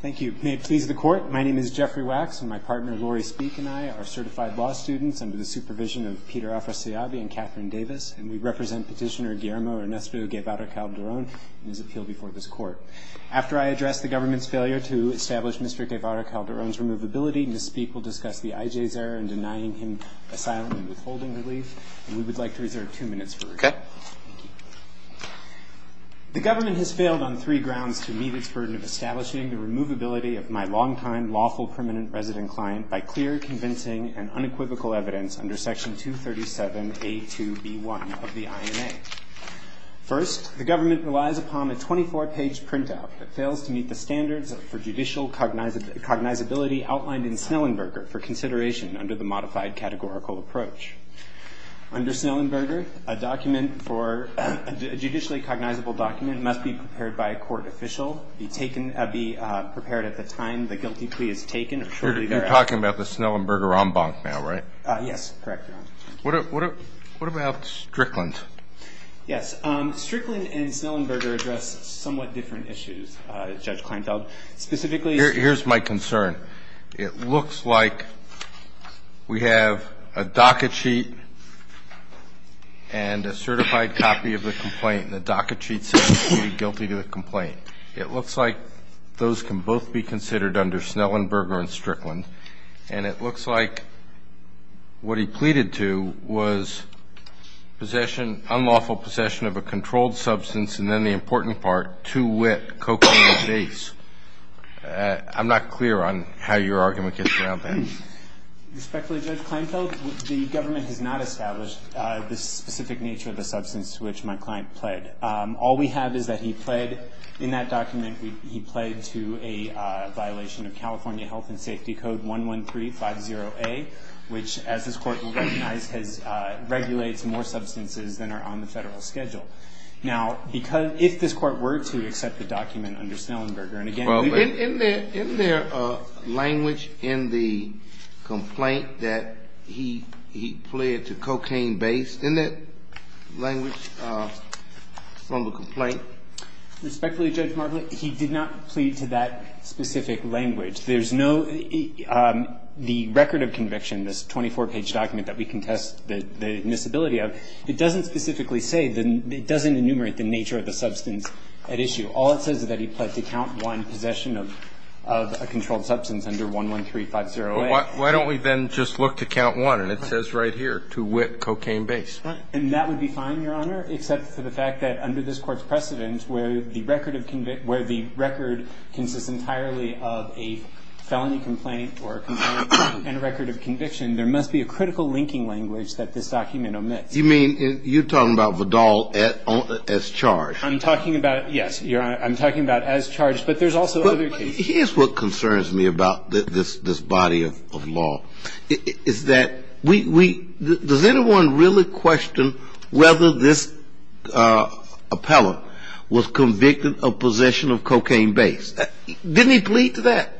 Thank you. May it please the court, my name is Jeffrey Wax. And my partner, Laurie Speake, and I are certified law students under the supervision of Peter Alfraseabi and Catherine Davis. And we represent petitioner Guillermo Ernesto Guevara-Calderon in his appeal before this court. After I address the government's failure to establish Mr. Guevara-Calderon's removability, Ms. Speake will discuss the IJ's error in denying him asylum and withholding relief. And we would like to reserve two minutes for her. OK. The government has failed on three grounds to meet its burden of establishing the removability of my longtime lawful permanent resident client by clear, convincing, and unequivocal evidence under section 237A2B1 of the INA. First, the government relies upon a 24-page printout that fails to meet the standards for judicial cognizability outlined in Snellenberger for consideration under the modified categorical approach. Under Snellenberger, a judicially cognizable document must be prepared by a court official, be taken, be prepared at the time the guilty plea is taken. You're talking about the Snellenberger en banc now, right? Yes, correct, Your Honor. What about Strickland? Yes, Strickland and Snellenberger address somewhat different issues, Judge Kleinfeld. Specifically, here's my concern. It looks like we have a docket sheet and a certified copy of the complaint. And the docket sheet says, pleaded guilty to the complaint. It looks like those can both be considered under Snellenberger and Strickland. And it looks like what he pleaded to was unlawful possession of a controlled substance, and then the important part, too wet cocaine or base. I'm not clear on how your argument gets around that. Respectfully, Judge Kleinfeld, the government has not established the specific nature of the substance which my client pled. All we have is that he pled, in that document, he pled to a violation of California Health and Safety Code 11350A, which, as this court will recognize, regulates more substances than are on the federal schedule. Now, if this court were to accept the document under Snellenberger, and again, in their language in the complaint that he pled to cocaine base, in that language from the complaint. Respectfully, Judge Martley, he did not plead to that specific language. There's no, the record of conviction, this 24-page document that we can test the admissibility of, it doesn't specifically say, it doesn't enumerate the nature of the substance at issue. All it says is that he pled to count one possession of a controlled substance under 11350A. Why don't we then just look to count one, and it says right here, to wit, cocaine base. And that would be fine, Your Honor, except for the fact that under this court's precedent, where the record of convict, where the record consists entirely of a felony complaint or a complaint and a record of conviction, there must be a critical linking language that this document omits. You mean, you're talking about Vidal as charged. I'm talking about, yes, Your Honor, I'm talking about as charged. But there's also other cases. Here's what concerns me about this body of law. It's that we, does anyone really question whether this appellant was convicted of possession of cocaine base? Didn't he plead to that?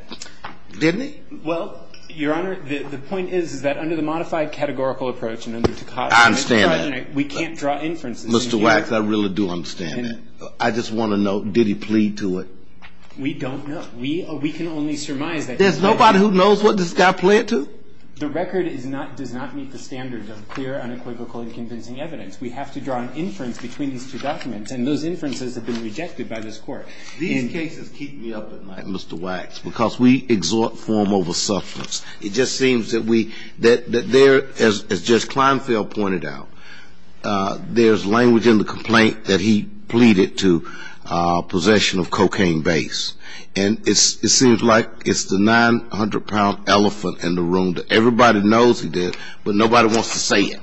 Didn't he? Well, Your Honor, the point is that under the modified categorical approach and under Takata, I understand that. We can't draw inferences. Mr. Wax, I really do understand that. I just want to know, did he plead to it? We don't know. We can only surmise that. There's nobody who knows what this guy plead to? The record does not meet the standards of clear, unequivocal, and convincing evidence. We have to draw an inference between these two documents. And those inferences have been rejected by this court. These cases keep me up at night, Mr. Wax, because we exhort form over substance. It just seems that we, that there, as Judge Kleinfeld pointed out, there's language in the complaint that he pleaded to possession of cocaine base. And it seems like it's the 900-pound elephant in the room that everybody knows he did, but nobody wants to say it.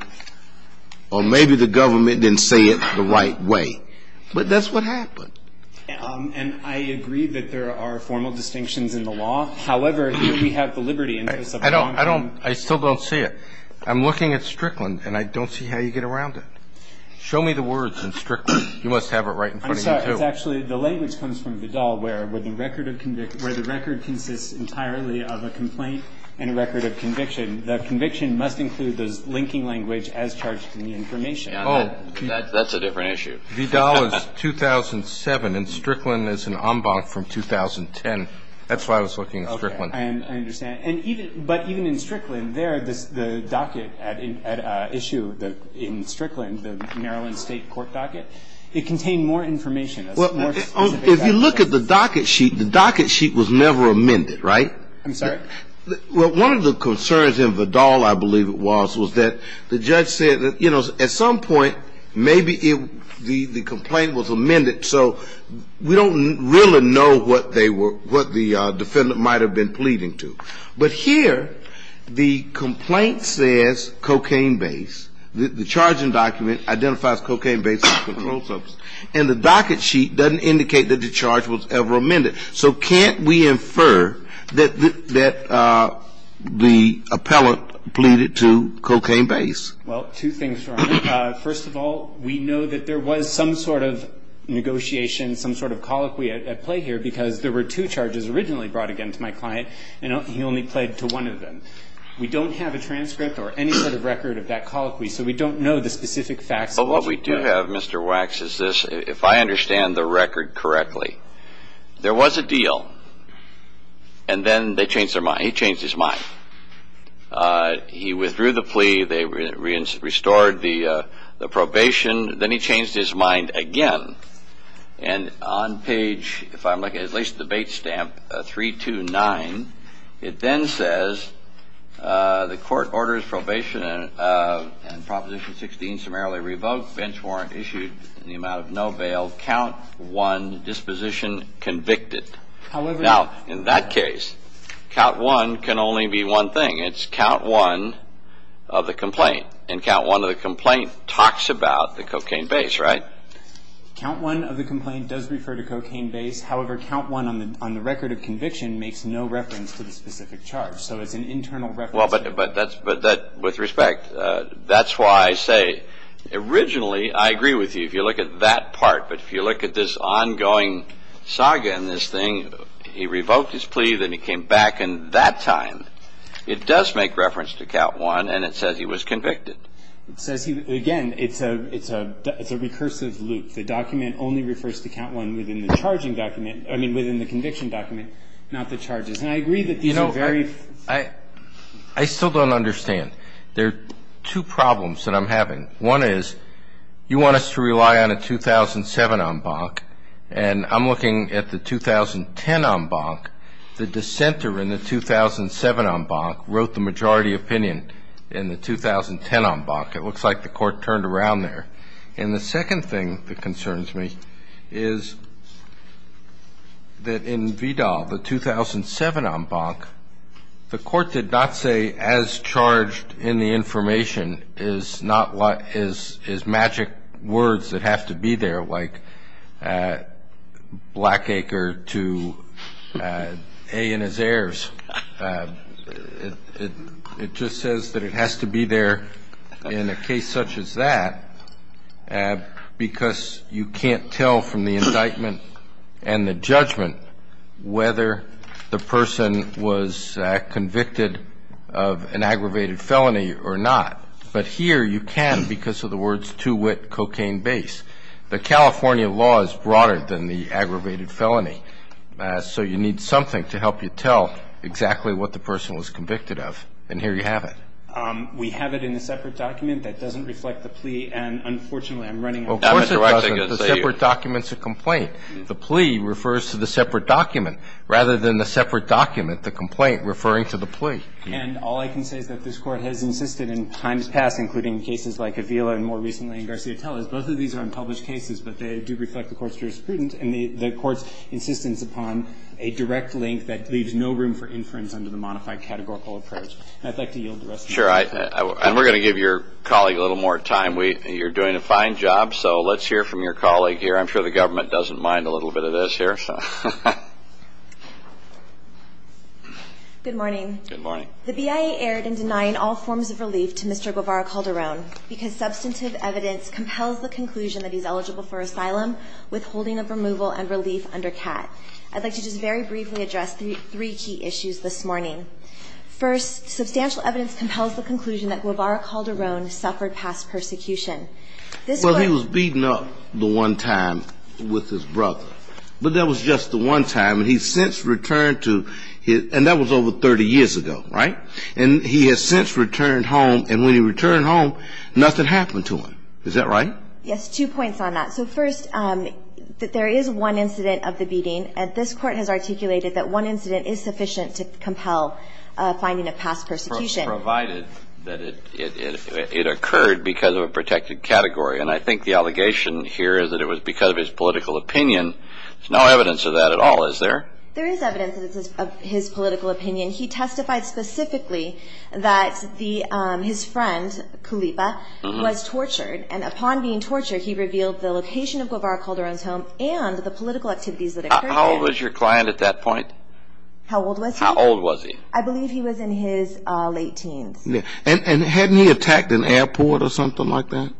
Or maybe the government didn't say it the right way. But that's what happened. And I agree that there are formal distinctions in the law. However, here we have the liberty in this of a long-term. I still don't see it. I'm looking at Strickland, and I don't see how you get around it. Show me the words in Strickland. You must have it right in front of you, too. I'm sorry, it's actually, the language comes from Vidal, where the record consists entirely of a complaint and a record of conviction. The conviction must include the linking language as charged in the information. Oh, that's a different issue. Vidal is 2007, and Strickland is an en banc from 2010. That's why I was looking at Strickland. I understand. But even in Strickland, there, the docket at issue in Strickland, the Maryland State Court docket, it contained more information. Well, if you look at the docket sheet, the docket sheet was never amended, right? I'm sorry? Well, one of the concerns in Vidal, I believe it was, was that the judge said that, you know, at some point, maybe the complaint was amended. So we don't really know what they were, what the defendant might have been pleading to. But here, the complaint says cocaine-based. The charging document identifies cocaine-based as a controlled substance. And the docket sheet doesn't indicate that the charge was ever amended. So can't we infer that the appellant pleaded to cocaine-based? Well, two things, Your Honor. First of all, we know that there was some sort of negotiation, some sort of colloquy at play here, because there were two charges originally brought again to my client, and he only pled to one of them. We don't have a transcript or any sort of record of that colloquy. So we don't know the specific facts of what was pled. What I have, Mr. Wax, is this. If I understand the record correctly, there was a deal. And then they changed their mind. He changed his mind. He withdrew the plea. They restored the probation. Then he changed his mind again. And on page, if I'm looking, at least debate stamp 329, it then says, the court orders probation and Proposition 16 summarily revoked, bench warrant issued in the amount of no bail, count one disposition convicted. Now, in that case, count one can only be one thing. It's count one of the complaint. And count one of the complaint talks about the cocaine base, right? Count one of the complaint does refer to cocaine base. However, count one on the record of conviction makes no reference to the specific charge. So it's an internal reference. Well, but with respect, that's why I say, originally, I agree with you if you look at that part. But if you look at this ongoing saga in this thing, he revoked his plea. Then he came back. And that time, it does make reference to count one. And it says he was convicted. It says, again, it's a recursive loop. The document only refers to count one within the conviction document, not the charges. And I agree that these are very few. I still don't understand. There are two problems that I'm having. One is, you want us to rely on a 2007 en banc. And I'm looking at the 2010 en banc. The dissenter in the 2007 en banc wrote the majority opinion in the 2010 en banc. It looks like the court turned around there. And the second thing that concerns me is that in Vidal, the 2007 en banc, the court did not say, as charged in the information, is magic words that have to be there, like Blackacre to A and his heirs. It just says that it has to be there in a case such as that, because you can't tell from the indictment and the judgment whether the person was convicted of an aggravated felony or not. But here, you can because of the words, too wit, cocaine base. The California law is broader than the aggravated felony. So you need something to help you tell exactly what the person was convicted of. And here you have it. We have it in a separate document that doesn't reflect the plea. And unfortunately, I'm running out of time. Of course it doesn't. The separate document's a complaint. The plea refers to the separate document, rather than the separate document, the complaint, referring to the plea. And all I can say is that this court has insisted in times past, including cases like Avila and more recently in Garcia Tellez, both of these are unpublished cases, but they do reflect the court's jurisprudence and the court's insistence upon a direct link that leaves no room for inference under the modified categorical approach. And I'd like to yield the rest of my time. And we're going to give your colleague a little more time. You're doing a fine job. So let's hear from your colleague here. I'm sure the government doesn't mind a little bit of this here. Good morning. Good morning. The BIA erred in denying all forms of relief to Mr. Guevara Calderon because substantive evidence compels the conclusion that he's eligible for asylum, withholding of removal, and relief under CAT. I'd like to just very briefly address three key issues this morning. First, substantial evidence compels the conclusion that Guevara Calderon suffered past persecution. This Court was beating up the one time with his brother. But that was just the one time. And he's since returned to his and that was over 30 years ago, right? And he has since returned home. And when he returned home, nothing happened to him. Is that right? Yes, two points on that. So first, that there is one incident of the beating. And this Court has articulated that one incident is sufficient to compel a finding of past persecution. Provided that it occurred because of a protected category. And I think the allegation here is that it was because of his political opinion. There's no evidence of that at all, is there? There is evidence of his political opinion. He testified specifically that his friend, Kulipa, was tortured. And upon being tortured, he revealed the location of Guevara Calderon's home and the political activities that occurred there. How old was your client at that point? How old was he? How old was he? I believe he was in his late teens. And hadn't he attacked an airport or something like that?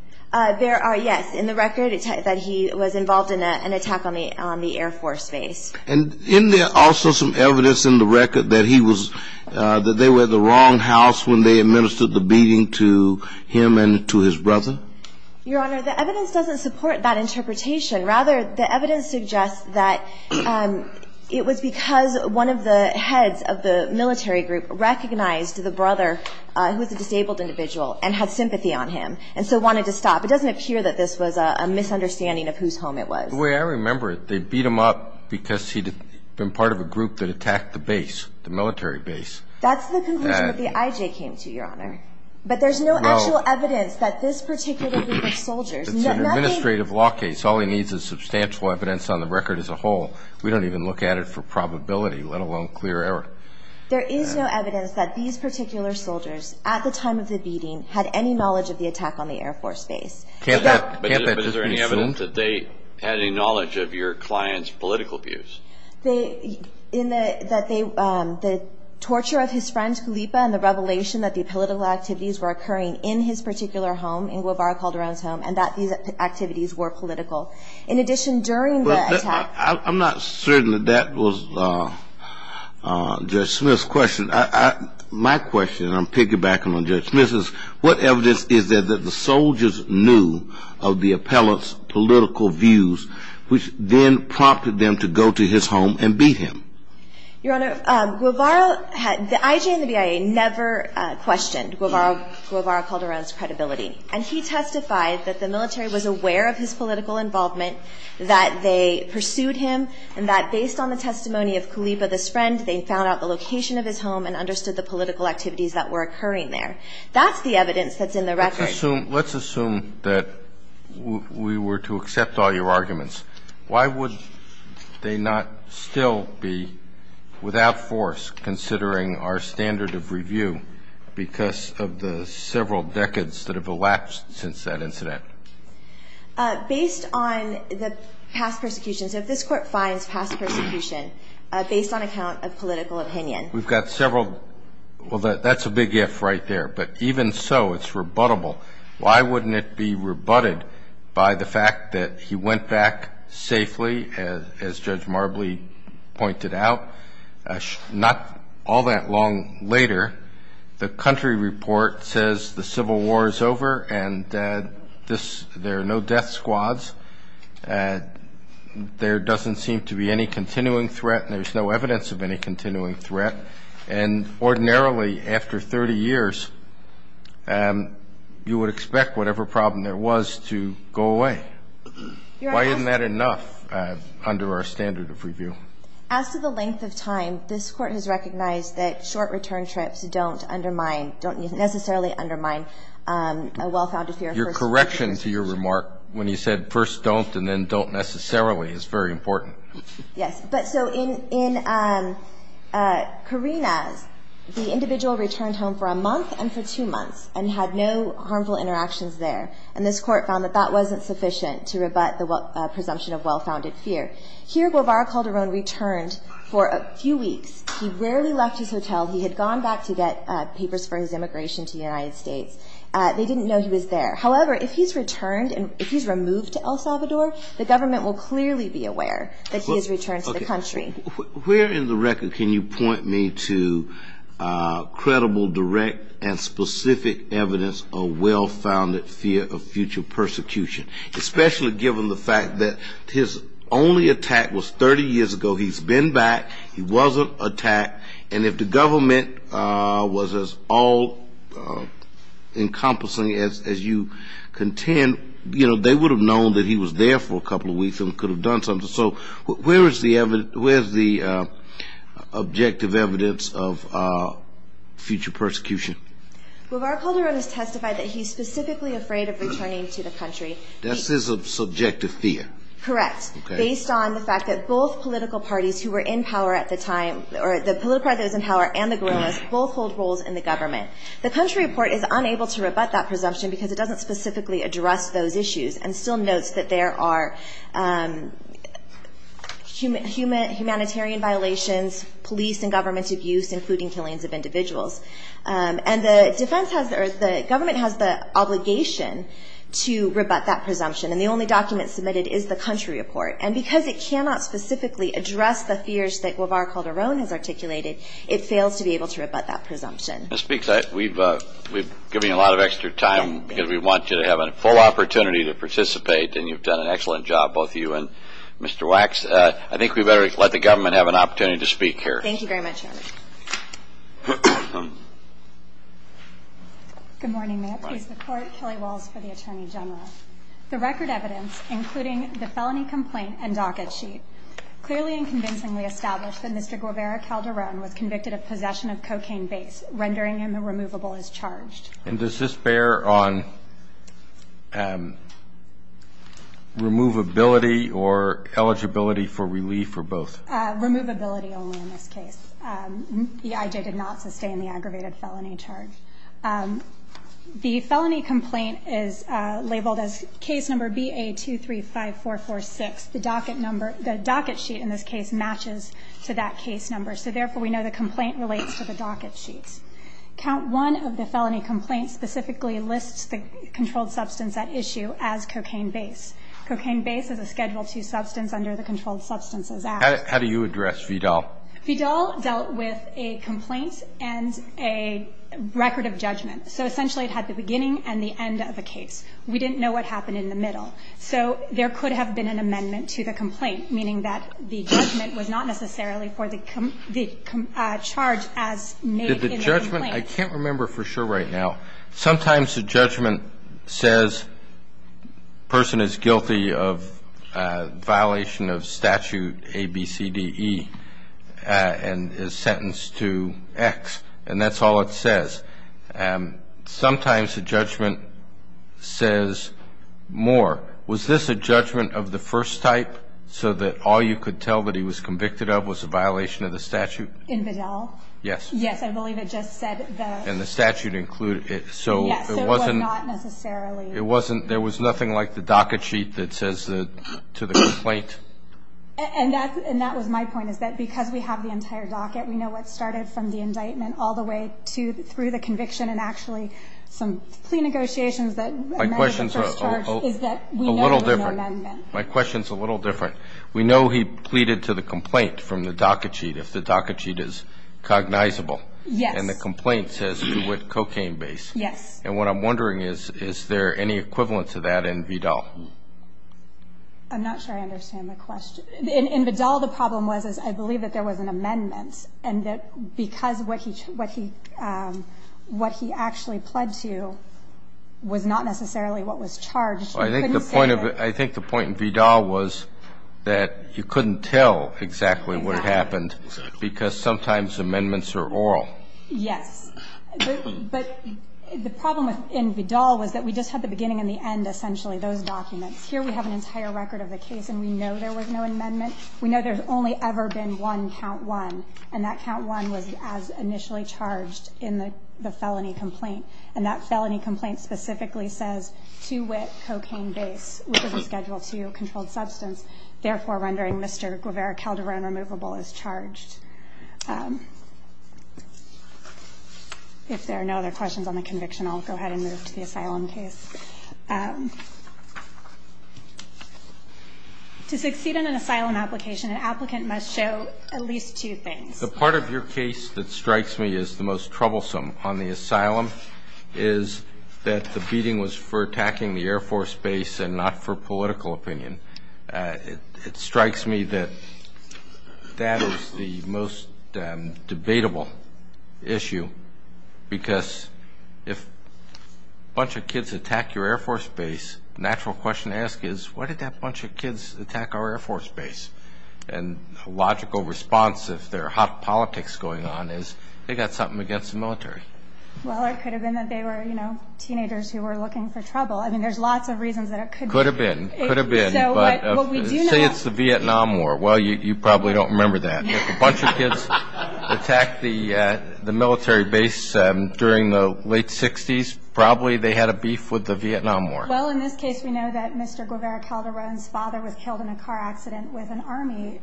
There are, yes. In the record, it said that he was involved in an attack on the Air Force base. And isn't there also some evidence in the record that he was, that they were at the wrong house when they administered the beating to him and to his brother? Your Honor, the evidence doesn't support that interpretation. Rather, the evidence suggests that it was because one of the heads of the military group recognized the brother, who was a disabled individual, and had sympathy on him, and so wanted to stop. It doesn't appear that this was a misunderstanding of whose home it was. The way I remember it, they beat him up because he'd been part of a group that attacked the base, the military base. That's the conclusion that the IJ came to, Your Honor. But there's no actual evidence that this particular group of soldiers. It's an administrative law case. All he needs is substantial evidence on the record as a whole. We don't even look at it for probability, let alone clear error. There is no evidence that these particular soldiers, at the time of the beating, had any knowledge of the attack on the Air Force base. Can't that just be assumed? But is there any evidence that they had any knowledge of your client's political views? The torture of his friend, Gulipa, and the revelation that the political activities were occurring in his particular home, in Guevara Calderon's home, and that these activities were political. In addition, during the attack. I'm not certain that that was Judge Smith's question. My question, and I'm piggybacking on Judge Smith's, what evidence is there that the soldiers knew of the appellant's political views, which then prompted them to go to his home and beat him? Your Honor, Guevara had, the IJ and the BIA never questioned Guevara Calderon's credibility. And he testified that the military was aware of his political involvement, that they pursued him, and that based on the testimony of Gulipa, this friend, they found out the location of his home and understood the political activities that were occurring there. That's the evidence that's in the record. Let's assume that we were to accept all your arguments. Why would they not still be, without force, considering our standard of review because of the several decades that have elapsed since that incident? Based on the past persecutions, if this court finds past persecution based on account of political opinion. We've got several. Well, that's a big if right there. But even so, it's rebuttable. Why wouldn't it be rebutted by the fact that he went back safely, as Judge Marbley pointed out, not all that long later? The country report says the Civil War is over, and there are no death squads. There doesn't seem to be any continuing threat, and there's no evidence of any continuing threat. And ordinarily, after 30 years, you would expect whatever problem there was to go away. Why isn't that enough under our standard of review? As to the length of time, this court has recognized that short return trips don't necessarily undermine a well-founded fear of first-timers. Your correction to your remark when you said first don't and then don't necessarily is very important. Yes, but so in Karina's, the individual returned home for a month and for two months and had no harmful interactions there. And this court found that that wasn't sufficient to rebut the presumption of well-founded fear. Here, Guevara Calderon returned for a few weeks. He rarely left his hotel. He had gone back to get papers for his immigration to the United States. They didn't know he was there. However, if he's returned and if he's removed to El Salvador, the government will clearly be aware that he has returned to the country. Where in the record can you point me to credible, direct, and specific evidence of well-founded fear of future persecution, especially given the fact that his only attack was 30 years ago. He's been back. He wasn't attacked. And if the government was as all encompassing as you contend, they would have known that he was there for a couple of weeks and could have done something. So where is the objective evidence of future persecution? Guevara Calderon has testified that he's specifically afraid of returning to the country. That's his subjective fear. Correct, based on the fact that both political parties who the political parties in power and the guerrillas both hold roles in the government. The country report is unable to rebut that presumption because it doesn't specifically address those issues and still notes that there are humanitarian violations, police and government abuse, including killings of individuals. And the government has the obligation to rebut that presumption. And the only document submitted is the country report. And because it cannot specifically address the fears that Guevara Calderon has articulated, it fails to be able to rebut that presumption. Ms. Speaks, we've given you a lot of extra time because we want you to have a full opportunity to participate. And you've done an excellent job, both you and Mr. Wax. I think we better let the government have an opportunity to speak here. Thank you very much, Your Honor. Good morning, ma'am. Please support Kelly Walls for the Attorney General. The record evidence, including the felony complaint and docket sheet, clearly and convincingly established that Mr. Guevara Calderon was convicted of possession of cocaine base, rendering him immovable as charged. And does this bear on removability or eligibility for relief or both? Removability only in this case. The IJ did not sustain the aggravated felony charge. The felony complaint is labeled as case number BA-235446. The docket sheet in this case matches to that case number. So therefore, we know the complaint relates to the docket sheet. Count one of the felony complaints specifically lists the controlled substance at issue as cocaine base. Cocaine base is a Schedule II substance under the Controlled Substances Act. How do you address Vidal? Vidal dealt with a complaint and a record of judgment. So essentially, it had the beginning and the end of the case. We didn't know what happened in the middle. So there could have been an amendment to the complaint, meaning that the judgment was not necessarily for the charge as made in the complaint. I can't remember for sure right now. Sometimes the judgment says person is guilty of violation of statute ABCDE and is sentenced to X. And that's all it says. And sometimes the judgment says more. Was this a judgment of the first type so that all you could tell that he was convicted of was a violation of the statute? In Vidal? Yes. Yes, I believe it just said that. And the statute included it. So it wasn't necessarily. There was nothing like the docket sheet that says to the complaint. And that was my point, is that because we have the entire docket, we know what started from the indictment all the way through the conviction and actually some plea negotiations that amended the first charge is that we know there's no amendment. My question's a little different. We know he pleaded to the complaint from the docket sheet if the docket sheet is cognizable. Yes. And the complaint says do with cocaine base. Yes. And what I'm wondering is, is there any equivalent to that in Vidal? I'm not sure I understand the question. In Vidal, the problem was is I believe that there was an amendment. And that because what he actually pled to was not necessarily what was charged, you couldn't say that. I think the point in Vidal was that you couldn't tell exactly what happened because sometimes amendments are oral. Yes. But the problem in Vidal was that we just had the beginning and the end, essentially, those documents. Here we have an entire record of the case and we know there was no amendment. We know there's only ever been one count one. And that count one was as initially charged in the felony complaint. And that felony complaint specifically says to wit cocaine base, which was a Schedule II controlled substance. Therefore, rendering Mr. Guevara Calderon removable is charged. If there are no other questions on the conviction, I'll go ahead and move to the asylum case. To succeed in an asylum application, an applicant must show at least two things. The part of your case that strikes me as the most troublesome on the asylum is that the beating was for attacking the Air Force base and not for political opinion. It strikes me that that is the most debatable issue because if a bunch of kids attack your Air Force base, the natural question to ask is, why did that bunch of kids attack our Air Force base? And a logical response, if there are hot politics going on, is they got something against the military. Well, it could have been that they were teenagers who were looking for trouble. I mean, there's lots of reasons that it could be. Could have been. Could have been. But say it's the Vietnam War. Well, you probably don't remember that. If a bunch of kids attacked the military base during the late 60s, probably they had a beef with the Vietnam War. Well, in this case, we know that Mr. Guevara Calderon's father was killed in a car accident with an Army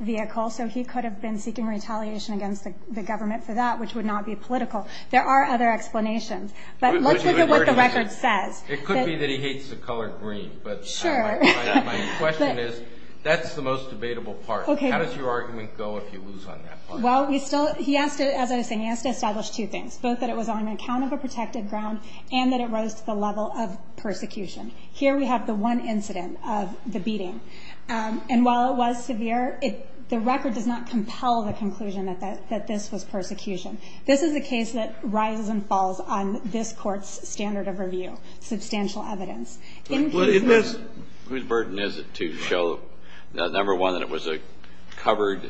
vehicle. So he could have been seeking retaliation against the government for that, which would not be political. There are other explanations. But let's look at what the record says. It could be that he hates the color green. But my question is, that's the most debatable part. How does your argument go if you lose on that point? Well, he asked it, as I was saying, he asked to establish two things, both that it was on account of a protected ground and that it rose to the level of persecution. Here we have the one incident of the beating. And while it was severe, the record does not compel the conclusion that this was persecution. This is a case that rises and falls on this court's standard of review, substantial evidence. Whose burden is it to show, number one, that it was a covered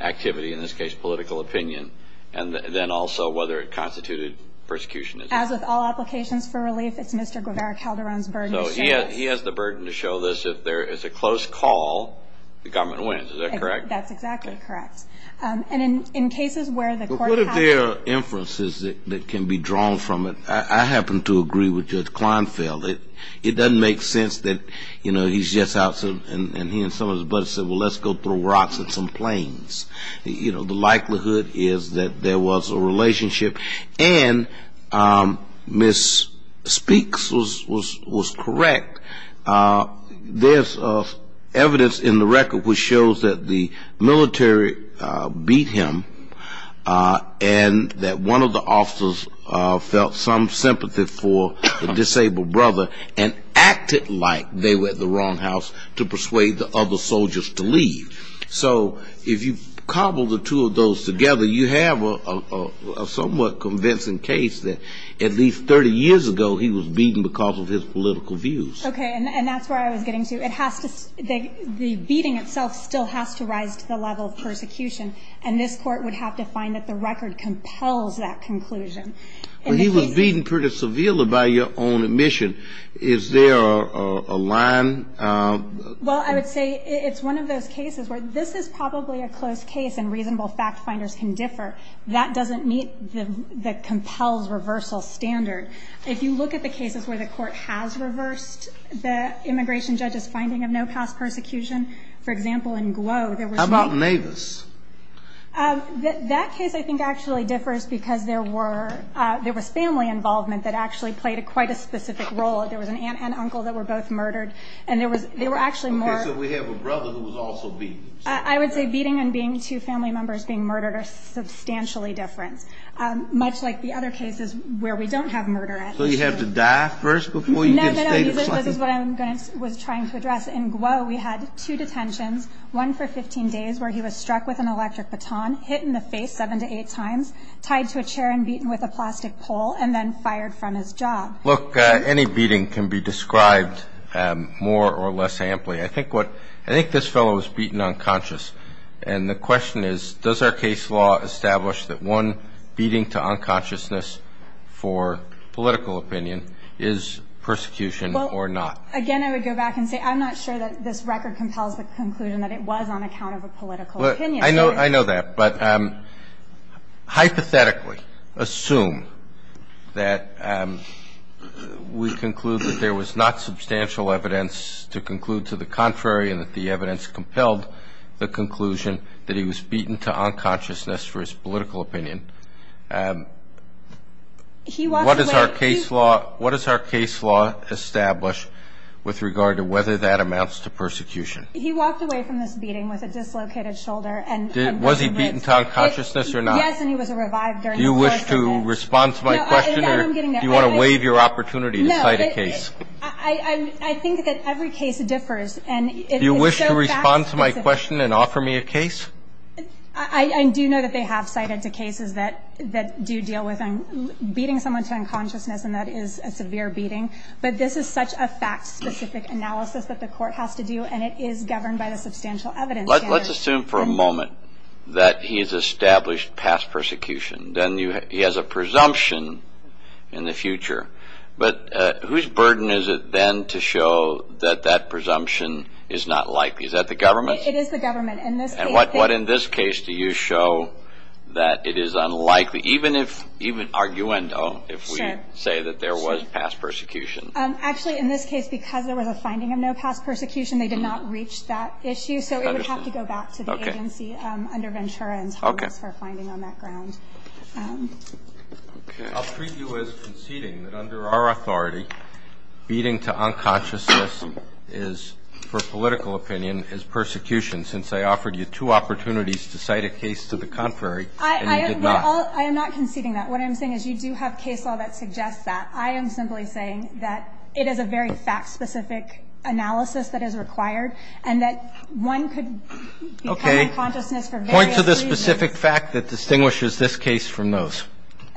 activity, in this case, political opinion? And then also, whether it constituted persecution? As with all applications for relief, it's Mr. Guevara Calderon's burden to show this. He has the burden to show this. If there is a close call, the government wins. Is that correct? That's exactly correct. And in cases where the court has to- But what if there are inferences that can be drawn from it? I happen to agree with Judge Kleinfeld. It doesn't make sense that he's just out, and he and some of his buddies said, well, let's go throw rocks at some planes. The likelihood is that there was a relationship. And Ms. Speaks was correct. There's evidence in the record which shows that the military beat him and that one of the officers felt some sympathy for the disabled brother and acted like they were at the wrong house to persuade the other soldiers to leave. So if you cobble the two of those together, you have a somewhat convincing case that at least 30 years ago, he was beaten because of his political views. OK, and that's where I was getting to. The beating itself still has to rise to the level of persecution, and this court would have to find that the record compels that conclusion. He was beaten pretty severely, by your own admission. Is there a line? Well, I would say it's one of those cases where this is probably a close case and reasonable fact-finders can differ. That doesn't meet the compels reversal standard. If you look at the cases where the court has reversed the immigration judge's finding of no past persecution, for example, in Guo, there was no- How about Navis? That case, I think, actually differs because there was family involvement that actually played quite a specific role. There was an aunt and uncle that were both murdered, and they were actually more- OK, so we have a brother who was also beaten. I would say beating and being two family members being murdered are substantially different, much like the other cases where we don't have murder at issue. So you have to die first before you get a state of flight? No, no, no, this is what I was trying to address. In Guo, we had two detentions, one for 15 days where he was struck with an electric baton, hit in the face seven to eight times, tied to a chair and beaten with a plastic pole, and then fired from his job. Look, any beating can be described more or less amply. I think this fellow was beaten unconscious. And the question is, does our case law establish that one beating to unconsciousness for political opinion is persecution or not? Again, I would go back and say, I'm not sure that this record compels the conclusion that it was on account of a political opinion. I know that, but hypothetically, assume that we conclude that there was not substantial evidence to conclude to the contrary and that the evidence compelled the conclusion that he was beaten to unconsciousness for his political opinion, what does our case law establish with regard to whether that amounts to persecution? He walked away from this beating with a dislocated shoulder and was he beaten to unconsciousness or not? Yes, and he was revived during the course of the case. Do you wish to respond to my question, or do you want to waive your opportunity to cite a case? No, I think that every case differs, and it's so fast. Do you wish to respond to my question and offer me a case? I do know that they have cited two cases that do deal with beating someone to unconsciousness, and that is a severe beating. But this is such a fact-specific analysis that the court has to do, and it is governed by the substantial evidence standard. Let's assume for a moment that he's established past persecution. Then he has a presumption in the future. But whose burden is it, then, to show that that presumption is not likely? Is that the government? It is the government. And what, in this case, do you show that it is unlikely, even if, even arguendo, if we say that there was past persecution? Actually, in this case, because there was a finding of no past persecution, they did not reach that issue. So it would have to go back to the agency under Ventura and Thomas for a finding on that ground. I'll treat you as conceding that under our authority, beating to unconsciousness is, for political opinion, is persecution, since I offered you two opportunities to cite a case to the contrary, and you did not. I am not conceding that. What I'm saying is you do have case law that suggests that. I am simply saying that it is a very fact-specific analysis that is required, and that one could become unconsciousness for various reasons. Okay. Point to the specific fact that distinguishes this case from those.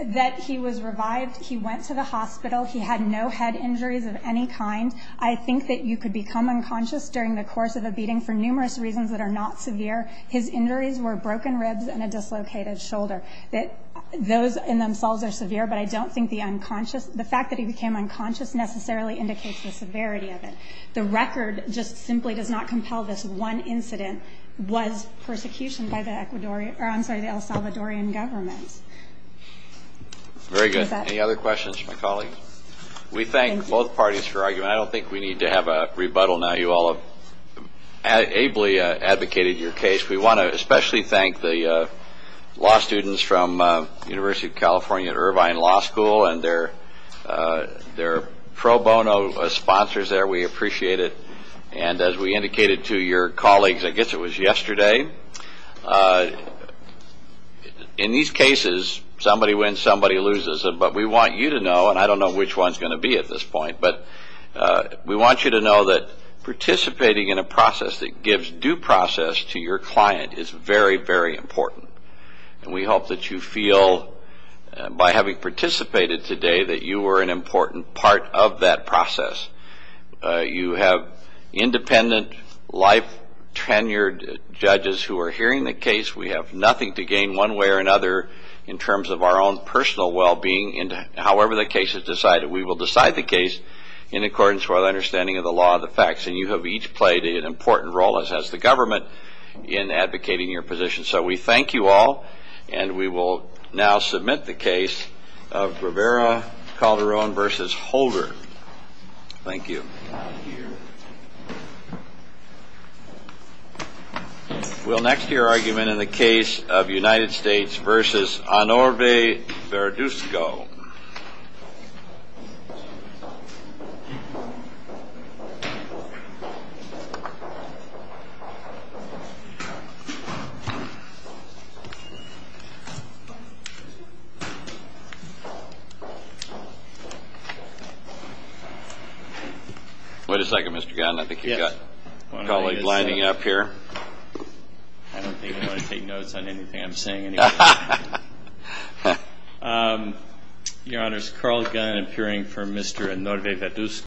That he was revived. He went to the hospital. He had no head injuries of any kind. I think that you could become unconscious during the course of a beating for numerous reasons that are not severe. His injuries were broken ribs and a dislocated shoulder. Those in themselves are severe, but I don't think the unconscious the fact that he became unconscious necessarily indicates the severity of it. The record just simply does not compel this one incident was persecution by the El Salvadorian government. Very good. Any other questions for my colleague? We thank both parties for arguing. I don't think we need to have a rebuttal now. You all have ably advocated your case. We want to especially thank the law students from University of California Irvine Law School and their pro bono sponsors there. We appreciate it. And as we indicated to your colleagues, I guess it was yesterday, in these cases, somebody wins, somebody loses. But we want you to know, and I don't know which one's going to be at this point. But we want you to know that participating in a process that gives due process to your client is very, very important. And we hope that you feel, by having participated today, that you were an important part of that process. You have independent, life-tenured judges who are hearing the case. We have nothing to gain one way or another in terms of our own personal well-being. And however the case is decided, we will decide the case in accordance with our understanding of the law and the facts. And you have each played an important role, as has the government, in advocating your position. So we thank you all. And we will now submit the case of Rivera-Calderon versus Holder. Thank you. We'll next hear argument in the case of United States versus Honorabe Verduzco. Wait a second, Mr. Gunn. I think you've got a colleague lining up here. I don't think they want to take notes on anything I'm saying. Your Honor, it's Carl Gunn, appearing for Mr. Honorabe Verduzco.